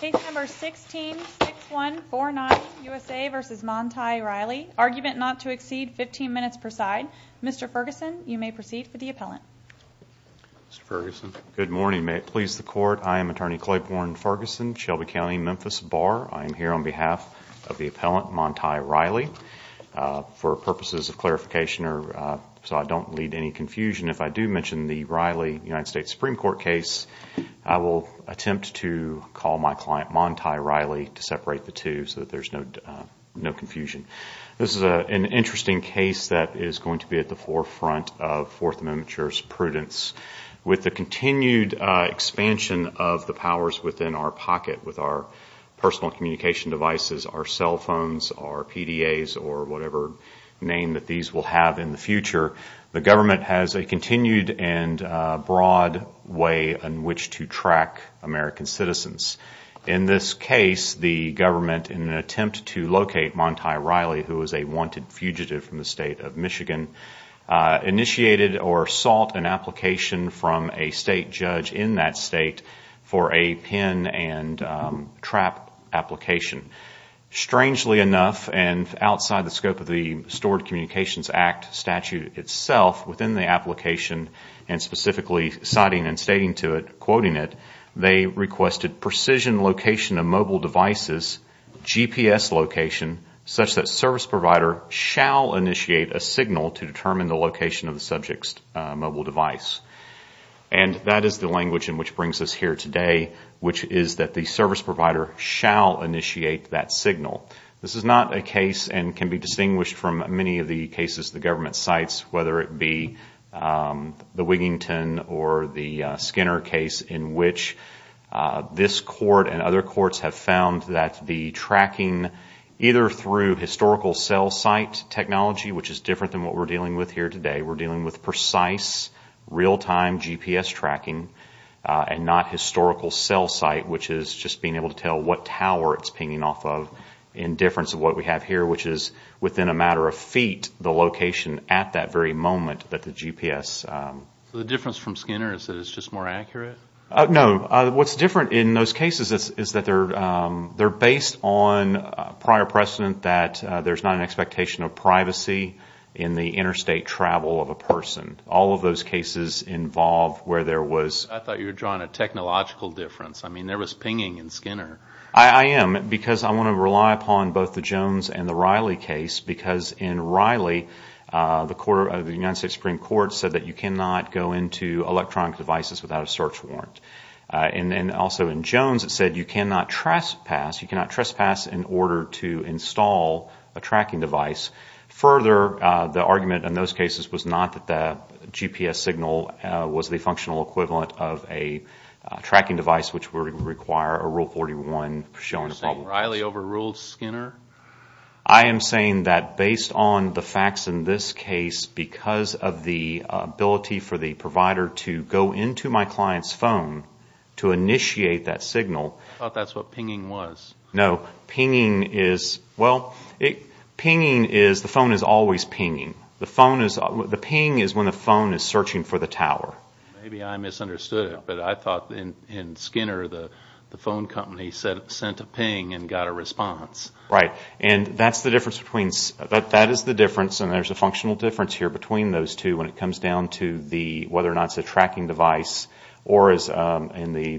Case number 16-6149, USA v. Montai Riley. Argument not to exceed 15 minutes per side. Mr. Ferguson, you may proceed with the appellant. Mr. Ferguson? Good morning. May it please the Court, I am Attorney Claiborne Ferguson, Shelby County, Memphis Bar. I am here on behalf of the appellant, Montai Riley. For purposes of clarification, so I don't lead to any confusion, if I do mention the Riley United States Supreme Court case, I will attempt to call my client Montai Riley to separate the two so that there is no confusion. This is an interesting case that is going to be at the forefront of Fourth Amendment jurors' prudence. With the continued expansion of the powers within our pocket, with our personal communication devices, our cell phones, our PDAs, or whatever name that these will have in the future, the government has a continued and broad way in which to track American citizens. In this case, the government, in an attempt to locate Montai Riley, who was a wanted fugitive from the state of Michigan, initiated or sought an application from a state judge in that state for a pin and trap application. Strangely enough, and outside the scope of the Stored Communications Act statute itself, within the application, and specifically citing and stating to it, quoting it, they requested precision location of mobile devices, GPS location, such that service provider shall initiate a signal to determine the location of the subject's mobile device. And that is the language in which brings us here today, which is that the service provider shall initiate that signal. This is not a case, and can be distinguished from many of the cases the government cites, whether it be the Wigington or the Skinner case, in which this court and other courts have found that the tracking, either through historical cell site technology, which is different than what we're dealing with here today, we're dealing with precise, real-time GPS tracking, and not historical cell site, which is just being able to tell what tower it's pinging off of, in difference of what we have here, which is within a matter of feet, the location at that very moment that the GPS... So the difference from Skinner is that it's just more accurate? No, what's different in those cases is that they're based on prior precedent that there's not an expectation of privacy in the interstate travel of a person. All of those cases involve where there was... I thought you were drawing a technological difference. I mean, there was pinging in Skinner. I am, because I want to rely upon both the Jones and the Riley case, because in Riley, the United States Supreme Court said that you cannot go into electronic devices without a search warrant. And also in Jones, it said you cannot trespass. You cannot trespass in order to install a tracking device. Further, the argument in those cases was not that the GPS signal was the functional equivalent of a tracking device, which would require a Rule 41 showing a problem. You're saying Riley overruled Skinner? I am saying that based on the facts in this case, because of the ability for the provider to go into my client's phone to initiate that signal... I thought that's what pinging was. No, pinging is... Well, the phone is always pinging. The ping is when the phone is searching for the tower. Maybe I misunderstood it, but I thought in Skinner, the phone company sent a ping and got a response. Right, and that's the difference between... when it comes down to whether or not it's a tracking device or, in the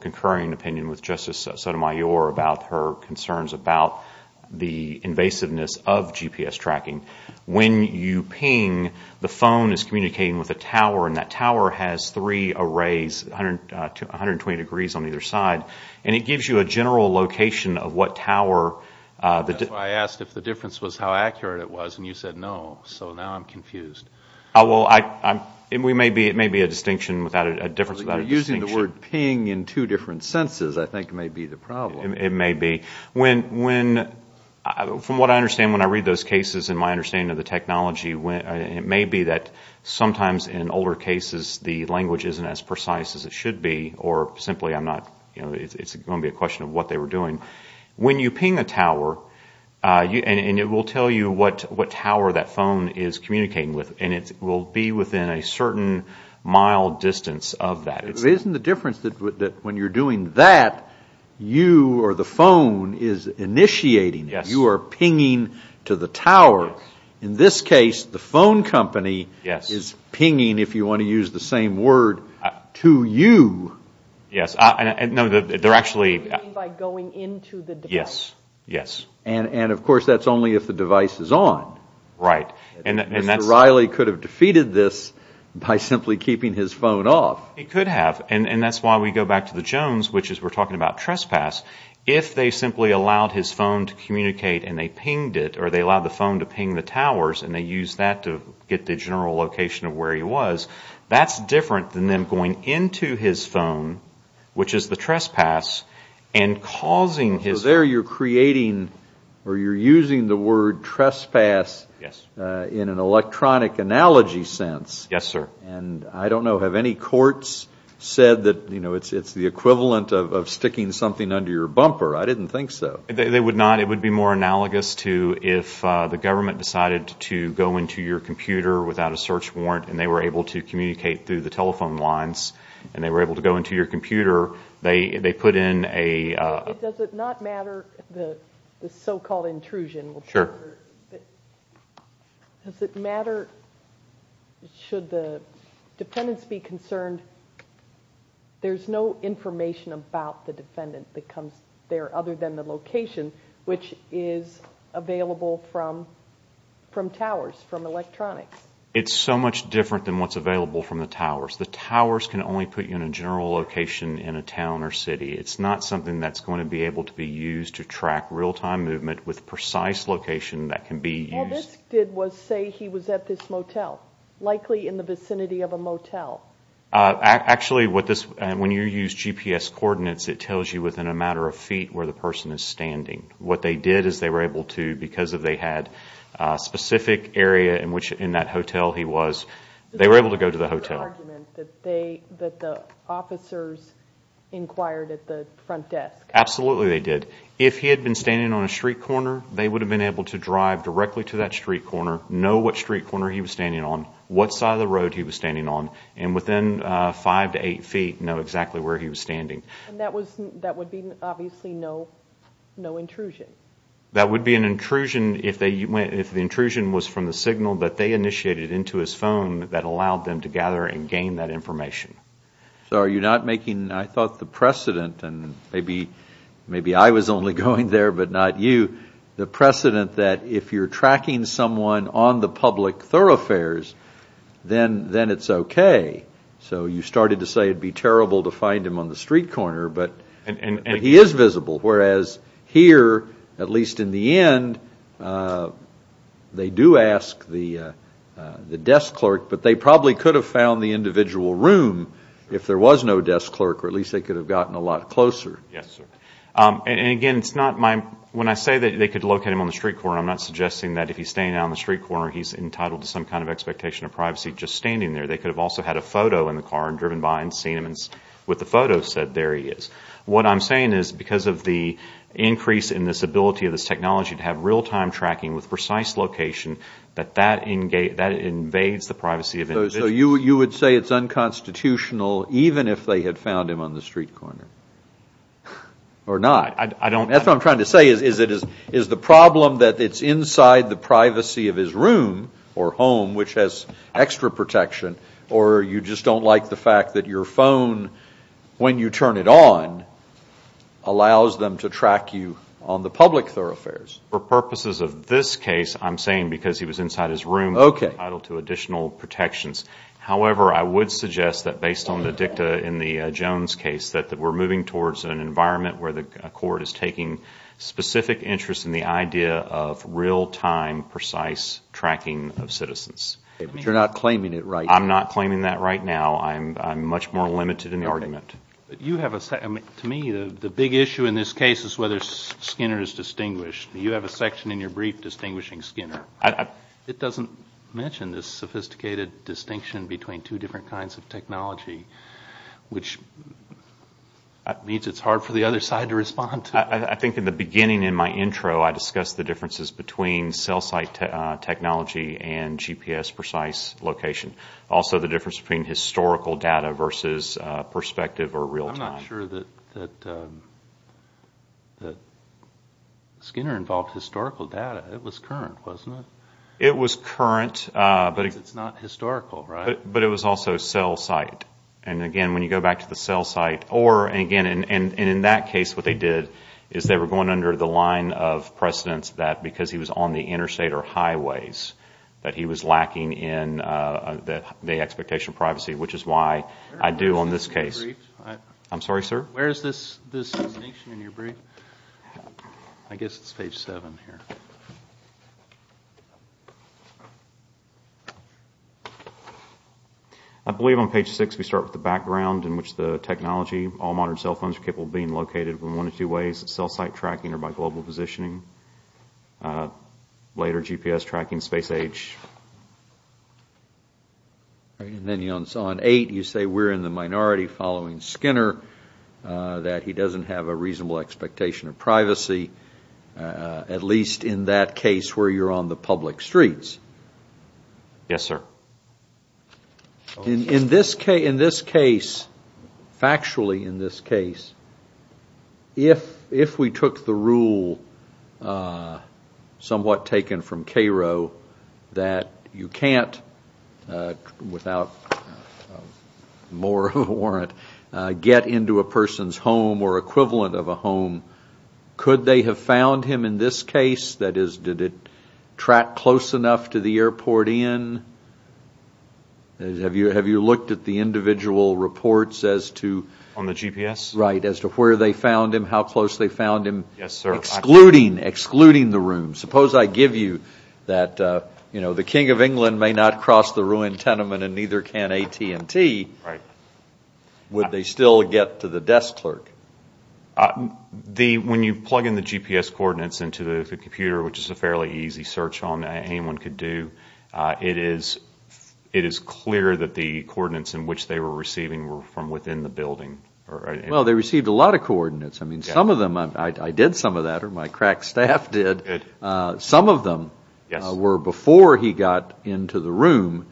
concurring opinion with Justice Sotomayor, about her concerns about the invasiveness of GPS tracking. When you ping, the phone is communicating with a tower, and that tower has three arrays, 120 degrees on either side, and it gives you a general location of what tower... That's why I asked if the difference was how accurate it was, and you said no. So now I'm confused. It may be a difference without a distinction. Using the word ping in two different senses, I think, may be the problem. It may be. From what I understand when I read those cases, and my understanding of the technology, it may be that sometimes in older cases the language isn't as precise as it should be, or simply it's going to be a question of what they were doing. When you ping a tower, and it will tell you what tower that phone is communicating with, and it will be within a certain mile distance of that. But isn't the difference that when you're doing that, you or the phone is initiating it? You are pinging to the tower. In this case, the phone company is pinging, if you want to use the same word, to you. You mean by going into the device? Yes. And, of course, that's only if the device is on. Right. Mr. Riley could have defeated this by simply keeping his phone off. He could have, and that's why we go back to the Jones, which is we're talking about trespass. If they simply allowed his phone to communicate, and they pinged it, or they allowed the phone to ping the towers, and they used that to get the general location of where he was, that's different than them going into his phone, which is the trespass, and causing his... So there you're creating, or you're using the word trespass... Yes. ...in an electronic analogy sense. Yes, sir. And I don't know. Have any courts said that it's the equivalent of sticking something under your bumper? I didn't think so. They would not. It would be more analogous to if the government decided to go into your computer without a search warrant, and they were able to communicate through the telephone lines, and they were able to go into your computer, they put in a... Does it not matter the so-called intrusion? Sure. Does it matter, should the defendants be concerned, there's no information about the defendant that comes there other than the location, which is available from towers, from electronics? It's so much different than what's available from the towers. The towers can only put you in a general location in a town or city. It's not something that's going to be able to be used to track real-time movement with precise location that can be used. All this did was say he was at this motel, likely in the vicinity of a motel. Actually, when you use GPS coordinates, it tells you within a matter of feet where the person is standing. What they did is they were able to, because they had a specific area in which in that hotel he was, they were able to go to the hotel. Was there an argument that the officers inquired at the front desk? Absolutely they did. If he had been standing on a street corner, they would have been able to drive directly to that street corner, know what street corner he was standing on, what side of the road he was standing on, and within five to eight feet know exactly where he was standing. That would be obviously no intrusion? That would be an intrusion if the intrusion was from the signal that they initiated into his phone that allowed them to gather and gain that information. So are you not making, I thought, the precedent, and maybe I was only going there but not you, the precedent that if you're tracking someone on the public thoroughfares, then it's okay. So you started to say it would be terrible to find him on the street corner, but he is visible, whereas here, at least in the end, they do ask the desk clerk, but they probably could have found the individual room if there was no desk clerk or at least they could have gotten a lot closer. Yes, sir. Again, when I say that they could locate him on the street corner, I'm not suggesting that if he's standing on the street corner, he's entitled to some kind of expectation of privacy just standing there. They could have also had a photo in the car and driven by and seen him and with the photo said there he is. What I'm saying is because of the increase in this ability of this technology to have real-time tracking with precise location, that that invades the privacy of individuals. So you would say it's unconstitutional even if they had found him on the street corner? Or not? That's what I'm trying to say is the problem that it's inside the privacy of his room or home, which has extra protection, or you just don't like the fact that your phone, when you turn it on, allows them to track you on the public thoroughfares. For purposes of this case, I'm saying because he was inside his room, he's entitled to additional protections. However, I would suggest that based on the dicta in the Jones case, that we're moving towards an environment where the court is taking specific interest in the idea of real-time precise tracking of citizens. But you're not claiming it right now? I'm not claiming that right now. I'm much more limited in argument. To me, the big issue in this case is whether Skinner is distinguished. You have a section in your brief distinguishing Skinner. It doesn't mention this sophisticated distinction between two different kinds of technology, which means it's hard for the other side to respond to. I think in the beginning in my intro, I discussed the differences between cell site technology and GPS precise location. Also, the difference between historical data versus perspective or real-time. I'm not sure that Skinner involved historical data. It was current, wasn't it? It was current. Because it's not historical, right? But it was also cell site. And again, when you go back to the cell site, And in that case, what they did is they were going under the line of precedence that because he was on the interstate or highways, that he was lacking in the expectation of privacy, which is why I do on this case. Where is this distinction in your brief? I guess it's page 7 here. I believe on page 6 we start with the background in which the technology, all modern cell phones are capable of being located in one of two ways, cell site tracking or by global positioning. Later, GPS tracking, space age. And then on 8, you say we're in the minority following Skinner, that he doesn't have a reasonable expectation of privacy, at least in that case where you're on the public streets. Yes, sir. In this case, factually in this case, if we took the rule somewhat taken from Cairo, that you can't, without more of a warrant, get into a person's home or equivalent of a home, could they have found him in this case? That is, did it track close enough to the airport in? Have you looked at the individual reports as to? On the GPS? Right, as to where they found him, how close they found him? Yes, sir. Excluding the room. Suppose I give you that the king of England may not cross the ruined tenement and neither can AT&T, would they still get to the desk clerk? When you plug in the GPS coordinates into the computer, which is a fairly easy search on anyone could do, it is clear that the coordinates in which they were receiving were from within the building. Well, they received a lot of coordinates. I mean, some of them, I did some of that, or my crack staff did. Some of them were before he got into the room.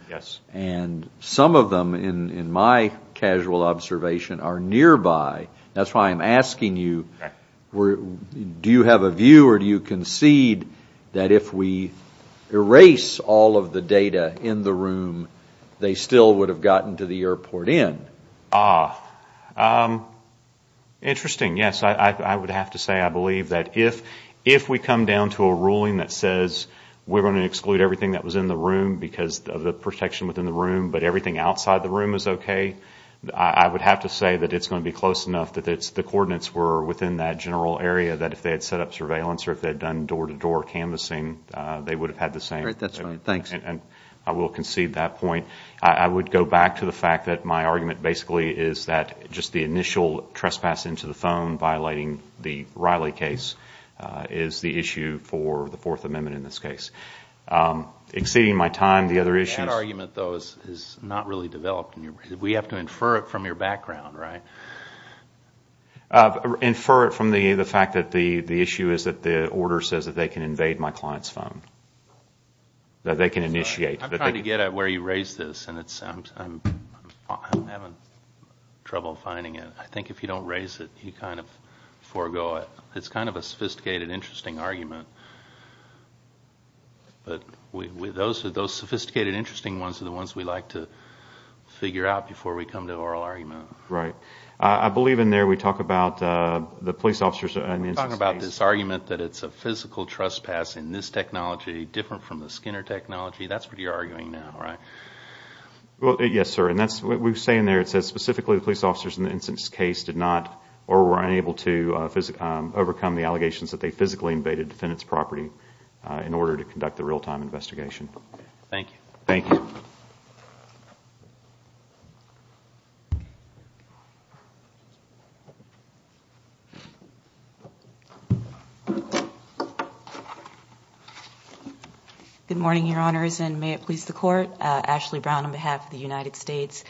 And some of them, in my casual observation, are nearby. That's why I'm asking you, do you have a view or do you concede that if we erase all of the data in the room, they still would have gotten to the airport in? Interesting, yes. I would have to say I believe that if we come down to a ruling that says we're going to exclude everything that was in the room because of the protection within the room, but everything outside the room is okay, I would have to say that it's going to be close enough that the coordinates were within that general area that if they had set up surveillance or if they had done door-to-door canvassing, they would have had the same. All right, that's fine. Thanks. And I will concede that point. I would go back to the fact that my argument basically is that just the initial trespass into the phone violating the Riley case is the issue for the Fourth Amendment in this case. Exceeding my time, the other issues. That argument, though, is not really developed. We have to infer it from your background, right? Infer it from the fact that the issue is that the order says that they can invade my client's phone, that they can initiate. I'm trying to get at where you raise this, and I'm having trouble finding it. I think if you don't raise it, you kind of forego it. It's kind of a sophisticated, interesting argument. But those sophisticated, interesting ones are the ones we like to figure out before we come to oral argument. Right. I believe in there we talk about the police officers in the instance case. We're talking about this argument that it's a physical trespass in this technology, different from the Skinner technology. That's what you're arguing now, right? Yes, sir. And we say in there it says specifically the police officers in the instance case did not or were unable to overcome the allegations that they physically invaded defendant's property in order to conduct the real-time investigation. Thank you. Thank you. Good morning, Your Honors, and may it please the Court. Ashley Brown on behalf of the United States.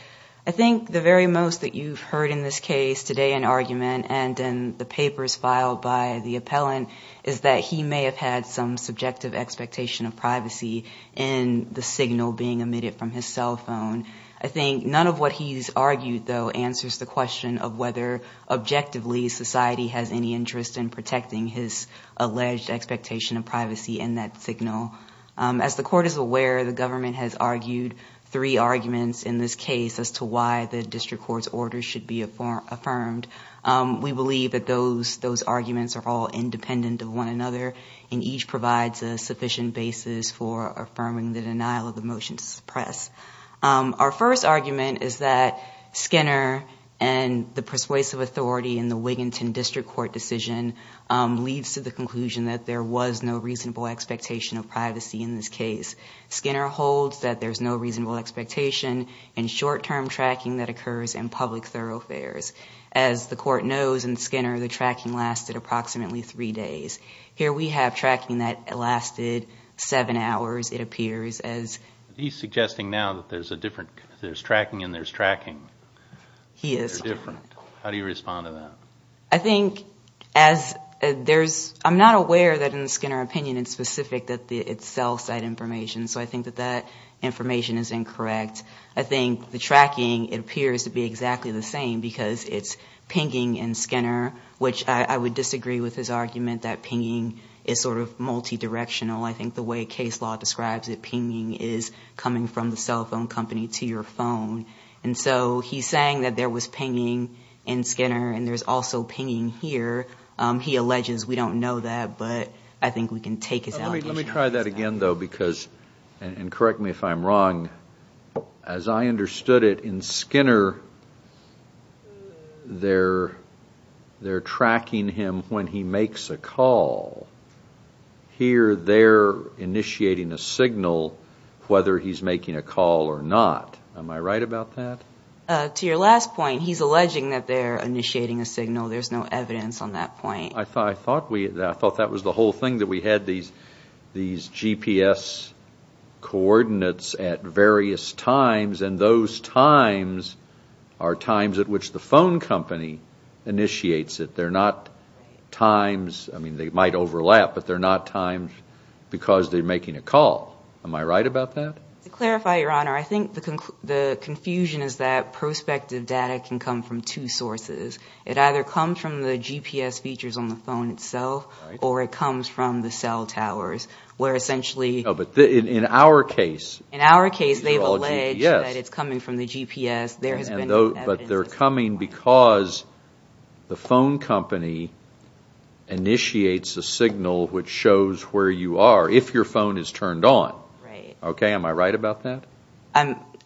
I think the very most that you've heard in this case today in argument and in the papers filed by the appellant is that he may have had some subjective expectation of privacy in the signal being emitted from his cell phone. I think none of what he's argued, though, answers the question of whether objectively society has any interest in protecting his alleged expectation of privacy in that signal. As the Court is aware, the government has argued three arguments in this case as to why the district court's order should be affirmed. We believe that those arguments are all independent of one another and each provides a sufficient basis for affirming the denial of the motion to suppress. Our first argument is that Skinner and the persuasive authority in the Wiginton District Court decision leads to the conclusion that there was no reasonable expectation of privacy in this case. Skinner holds that there's no reasonable expectation in short-term tracking that occurs in public thoroughfares. As the Court knows in Skinner, the tracking lasted approximately three days. Here we have tracking that lasted seven hours, it appears. He's suggesting now that there's tracking and there's tracking. He is. They're different. How do you respond to that? I'm not aware that in Skinner's opinion it's specific that it's cell site information, so I think that that information is incorrect. I think the tracking appears to be exactly the same because it's pinging in Skinner, which I would disagree with his argument that pinging is sort of multidirectional. I think the way case law describes it, pinging is coming from the cell phone company to your phone. And so he's saying that there was pinging in Skinner and there's also pinging here. He alleges we don't know that, but I think we can take his allegation. Let me try that again, though, and correct me if I'm wrong. As I understood it, in Skinner they're tracking him when he makes a call. Here they're initiating a signal whether he's making a call or not. Am I right about that? To your last point, he's alleging that they're initiating a signal. There's no evidence on that point. I thought that was the whole thing, that we had these GPS coordinates at various times, and those times are times at which the phone company initiates it. They're not times, I mean, they might overlap, but they're not times because they're making a call. Am I right about that? To clarify, Your Honor, I think the confusion is that prospective data can come from two sources. It either comes from the GPS features on the phone itself or it comes from the cell towers, where essentially In our case, they've alleged that it's coming from the GPS. There has been no evidence at this point. But they're coming because the phone company initiates a signal which shows where you are, if your phone is turned on. Right. Okay, am I right about that?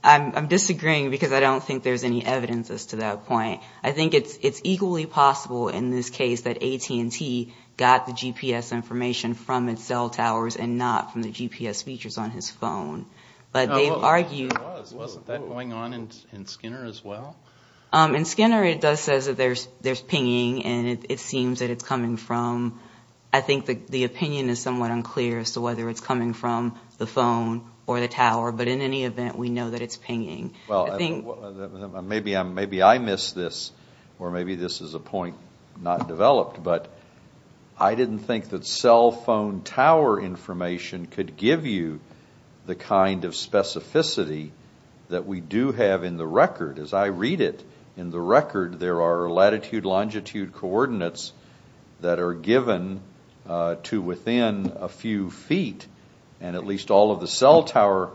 I'm disagreeing because I don't think there's any evidence as to that point. I think it's equally possible in this case that AT&T got the GPS information from its cell towers and not from the GPS features on his phone. But they've argued There was, wasn't that going on in Skinner as well? In Skinner, it does say that there's pinging, and it seems that it's coming from, I think the opinion is somewhat unclear as to whether it's coming from the phone or the tower, but in any event, we know that it's pinging. Maybe I missed this, or maybe this is a point not developed, but I didn't think that cell phone tower information could give you the kind of specificity that we do have in the record. As I read it in the record, there are latitude, longitude coordinates that are given to within a few feet, and at least all of the cell tower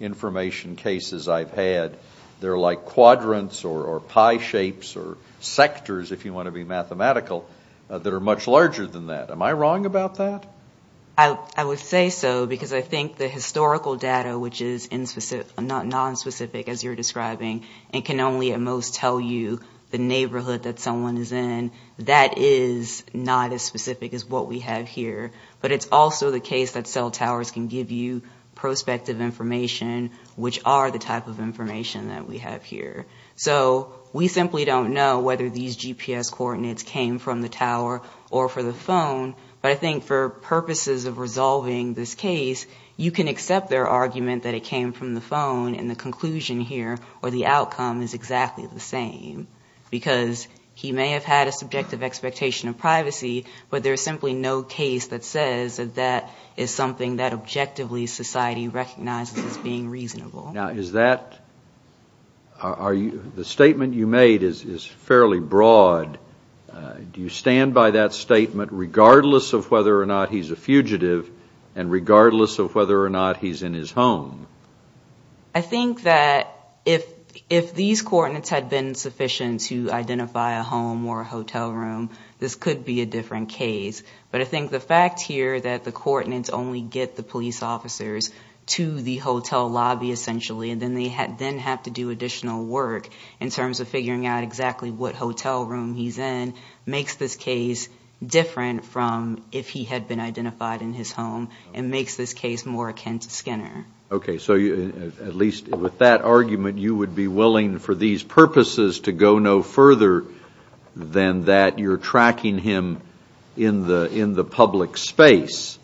information cases I've had, they're like quadrants or pie shapes or sectors, if you want to be mathematical, that are much larger than that. Am I wrong about that? I would say so because I think the historical data, which is nonspecific, as you're describing, and can only at most tell you the neighborhood that someone is in, that is not as specific as what we have here. But it's also the case that cell towers can give you prospective information, which are the type of information that we have here. So we simply don't know whether these GPS coordinates came from the tower or from the phone, but I think for purposes of resolving this case, you can accept their argument that it came from the phone, and the conclusion here or the outcome is exactly the same, because he may have had a subjective expectation of privacy, but there's simply no case that says that that is something that objectively society recognizes as being reasonable. Now, is that the statement you made is fairly broad. Do you stand by that statement regardless of whether or not he's a fugitive and regardless of whether or not he's in his home? I think that if these coordinates had been sufficient to identify a home or a hotel room, this could be a different case. But I think the fact here that the coordinates only get the police officers to the hotel lobby essentially and then they then have to do additional work in terms of figuring out exactly what hotel room he's in makes this case different from if he had been identified in his home and makes this case more akin to Skinner. Okay, so at least with that argument, you would be willing for these purposes to go no further than that you're tracking him in the public space.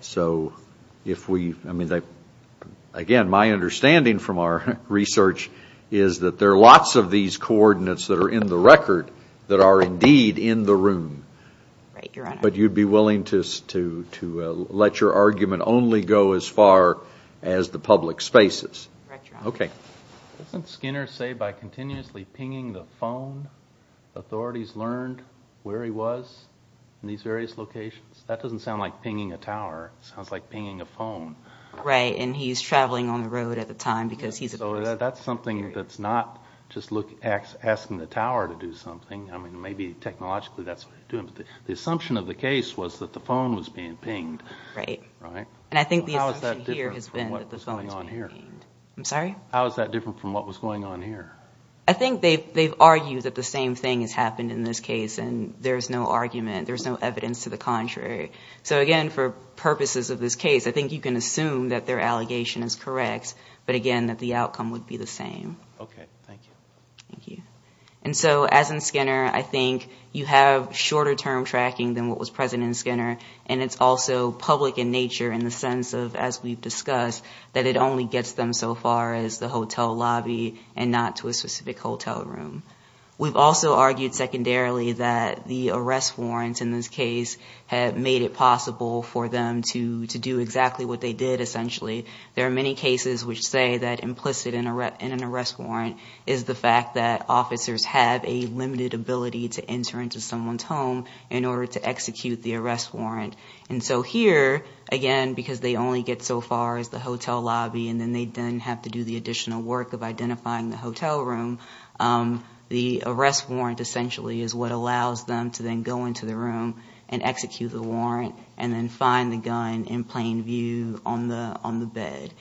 So if we, I mean, again, my understanding from our research is that there are lots of these coordinates that are in the record that are indeed in the room. Right, Your Honor. But you'd be willing to let your argument only go as far as the public spaces. Right, Your Honor. Okay. Doesn't Skinner say by continuously pinging the phone, authorities learned where he was in these various locations? That doesn't sound like pinging a tower. It sounds like pinging a phone. Right, and he's traveling on the road at the time because he's a police officer. So that's something that's not just asking the tower to do something. I mean, maybe technologically that's what they're doing. But the assumption of the case was that the phone was being pinged. Right. And I think the assumption here has been that the phone was being pinged. I'm sorry? How is that different from what was going on here? I think they've argued that the same thing has happened in this case, and there's no argument. There's no evidence to the contrary. So, again, for purposes of this case, I think you can assume that their allegation is correct, but, again, that the outcome would be the same. Okay, thank you. Thank you. And so, as in Skinner, I think you have shorter-term tracking than what was present in Skinner, and it's also public in nature in the sense of, as we've discussed, that it only gets them so far as the hotel lobby and not to a specific hotel room. We've also argued secondarily that the arrest warrants in this case have made it possible for them to do exactly what they did, essentially. There are many cases which say that implicit in an arrest warrant is the fact that And so here, again, because they only get so far as the hotel lobby and then they then have to do the additional work of identifying the hotel room, the arrest warrant essentially is what allows them to then go into the room and execute the warrant and then find the gun in plain view on the bed.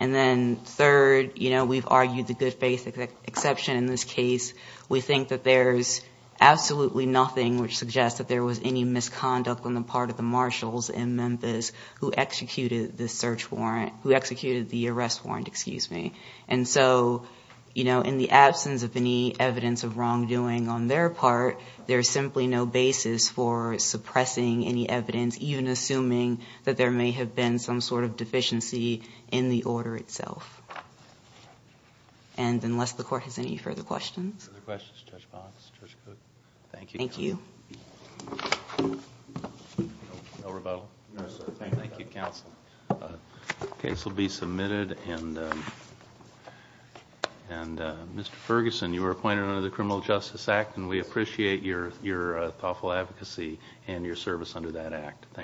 And then third, you know, we've argued the good faith exception in this case. We think that there's absolutely nothing which suggests that there was any misconduct on the part of the marshals in Memphis who executed the search warrant, who executed the arrest warrant, excuse me. And so, you know, in the absence of any evidence of wrongdoing on their part, there's simply no basis for suppressing any evidence, even assuming that there may have been some sort of deficiency in the order itself. And unless the court has any further questions. Other questions, Judge Bonds, Judge Cook? Thank you. Thank you. No rebuttal? No, sir. Thank you, counsel. The case will be submitted and Mr. Ferguson, you were appointed under the Criminal Justice Act and we appreciate your thoughtful advocacy and your service under that act. Thank you.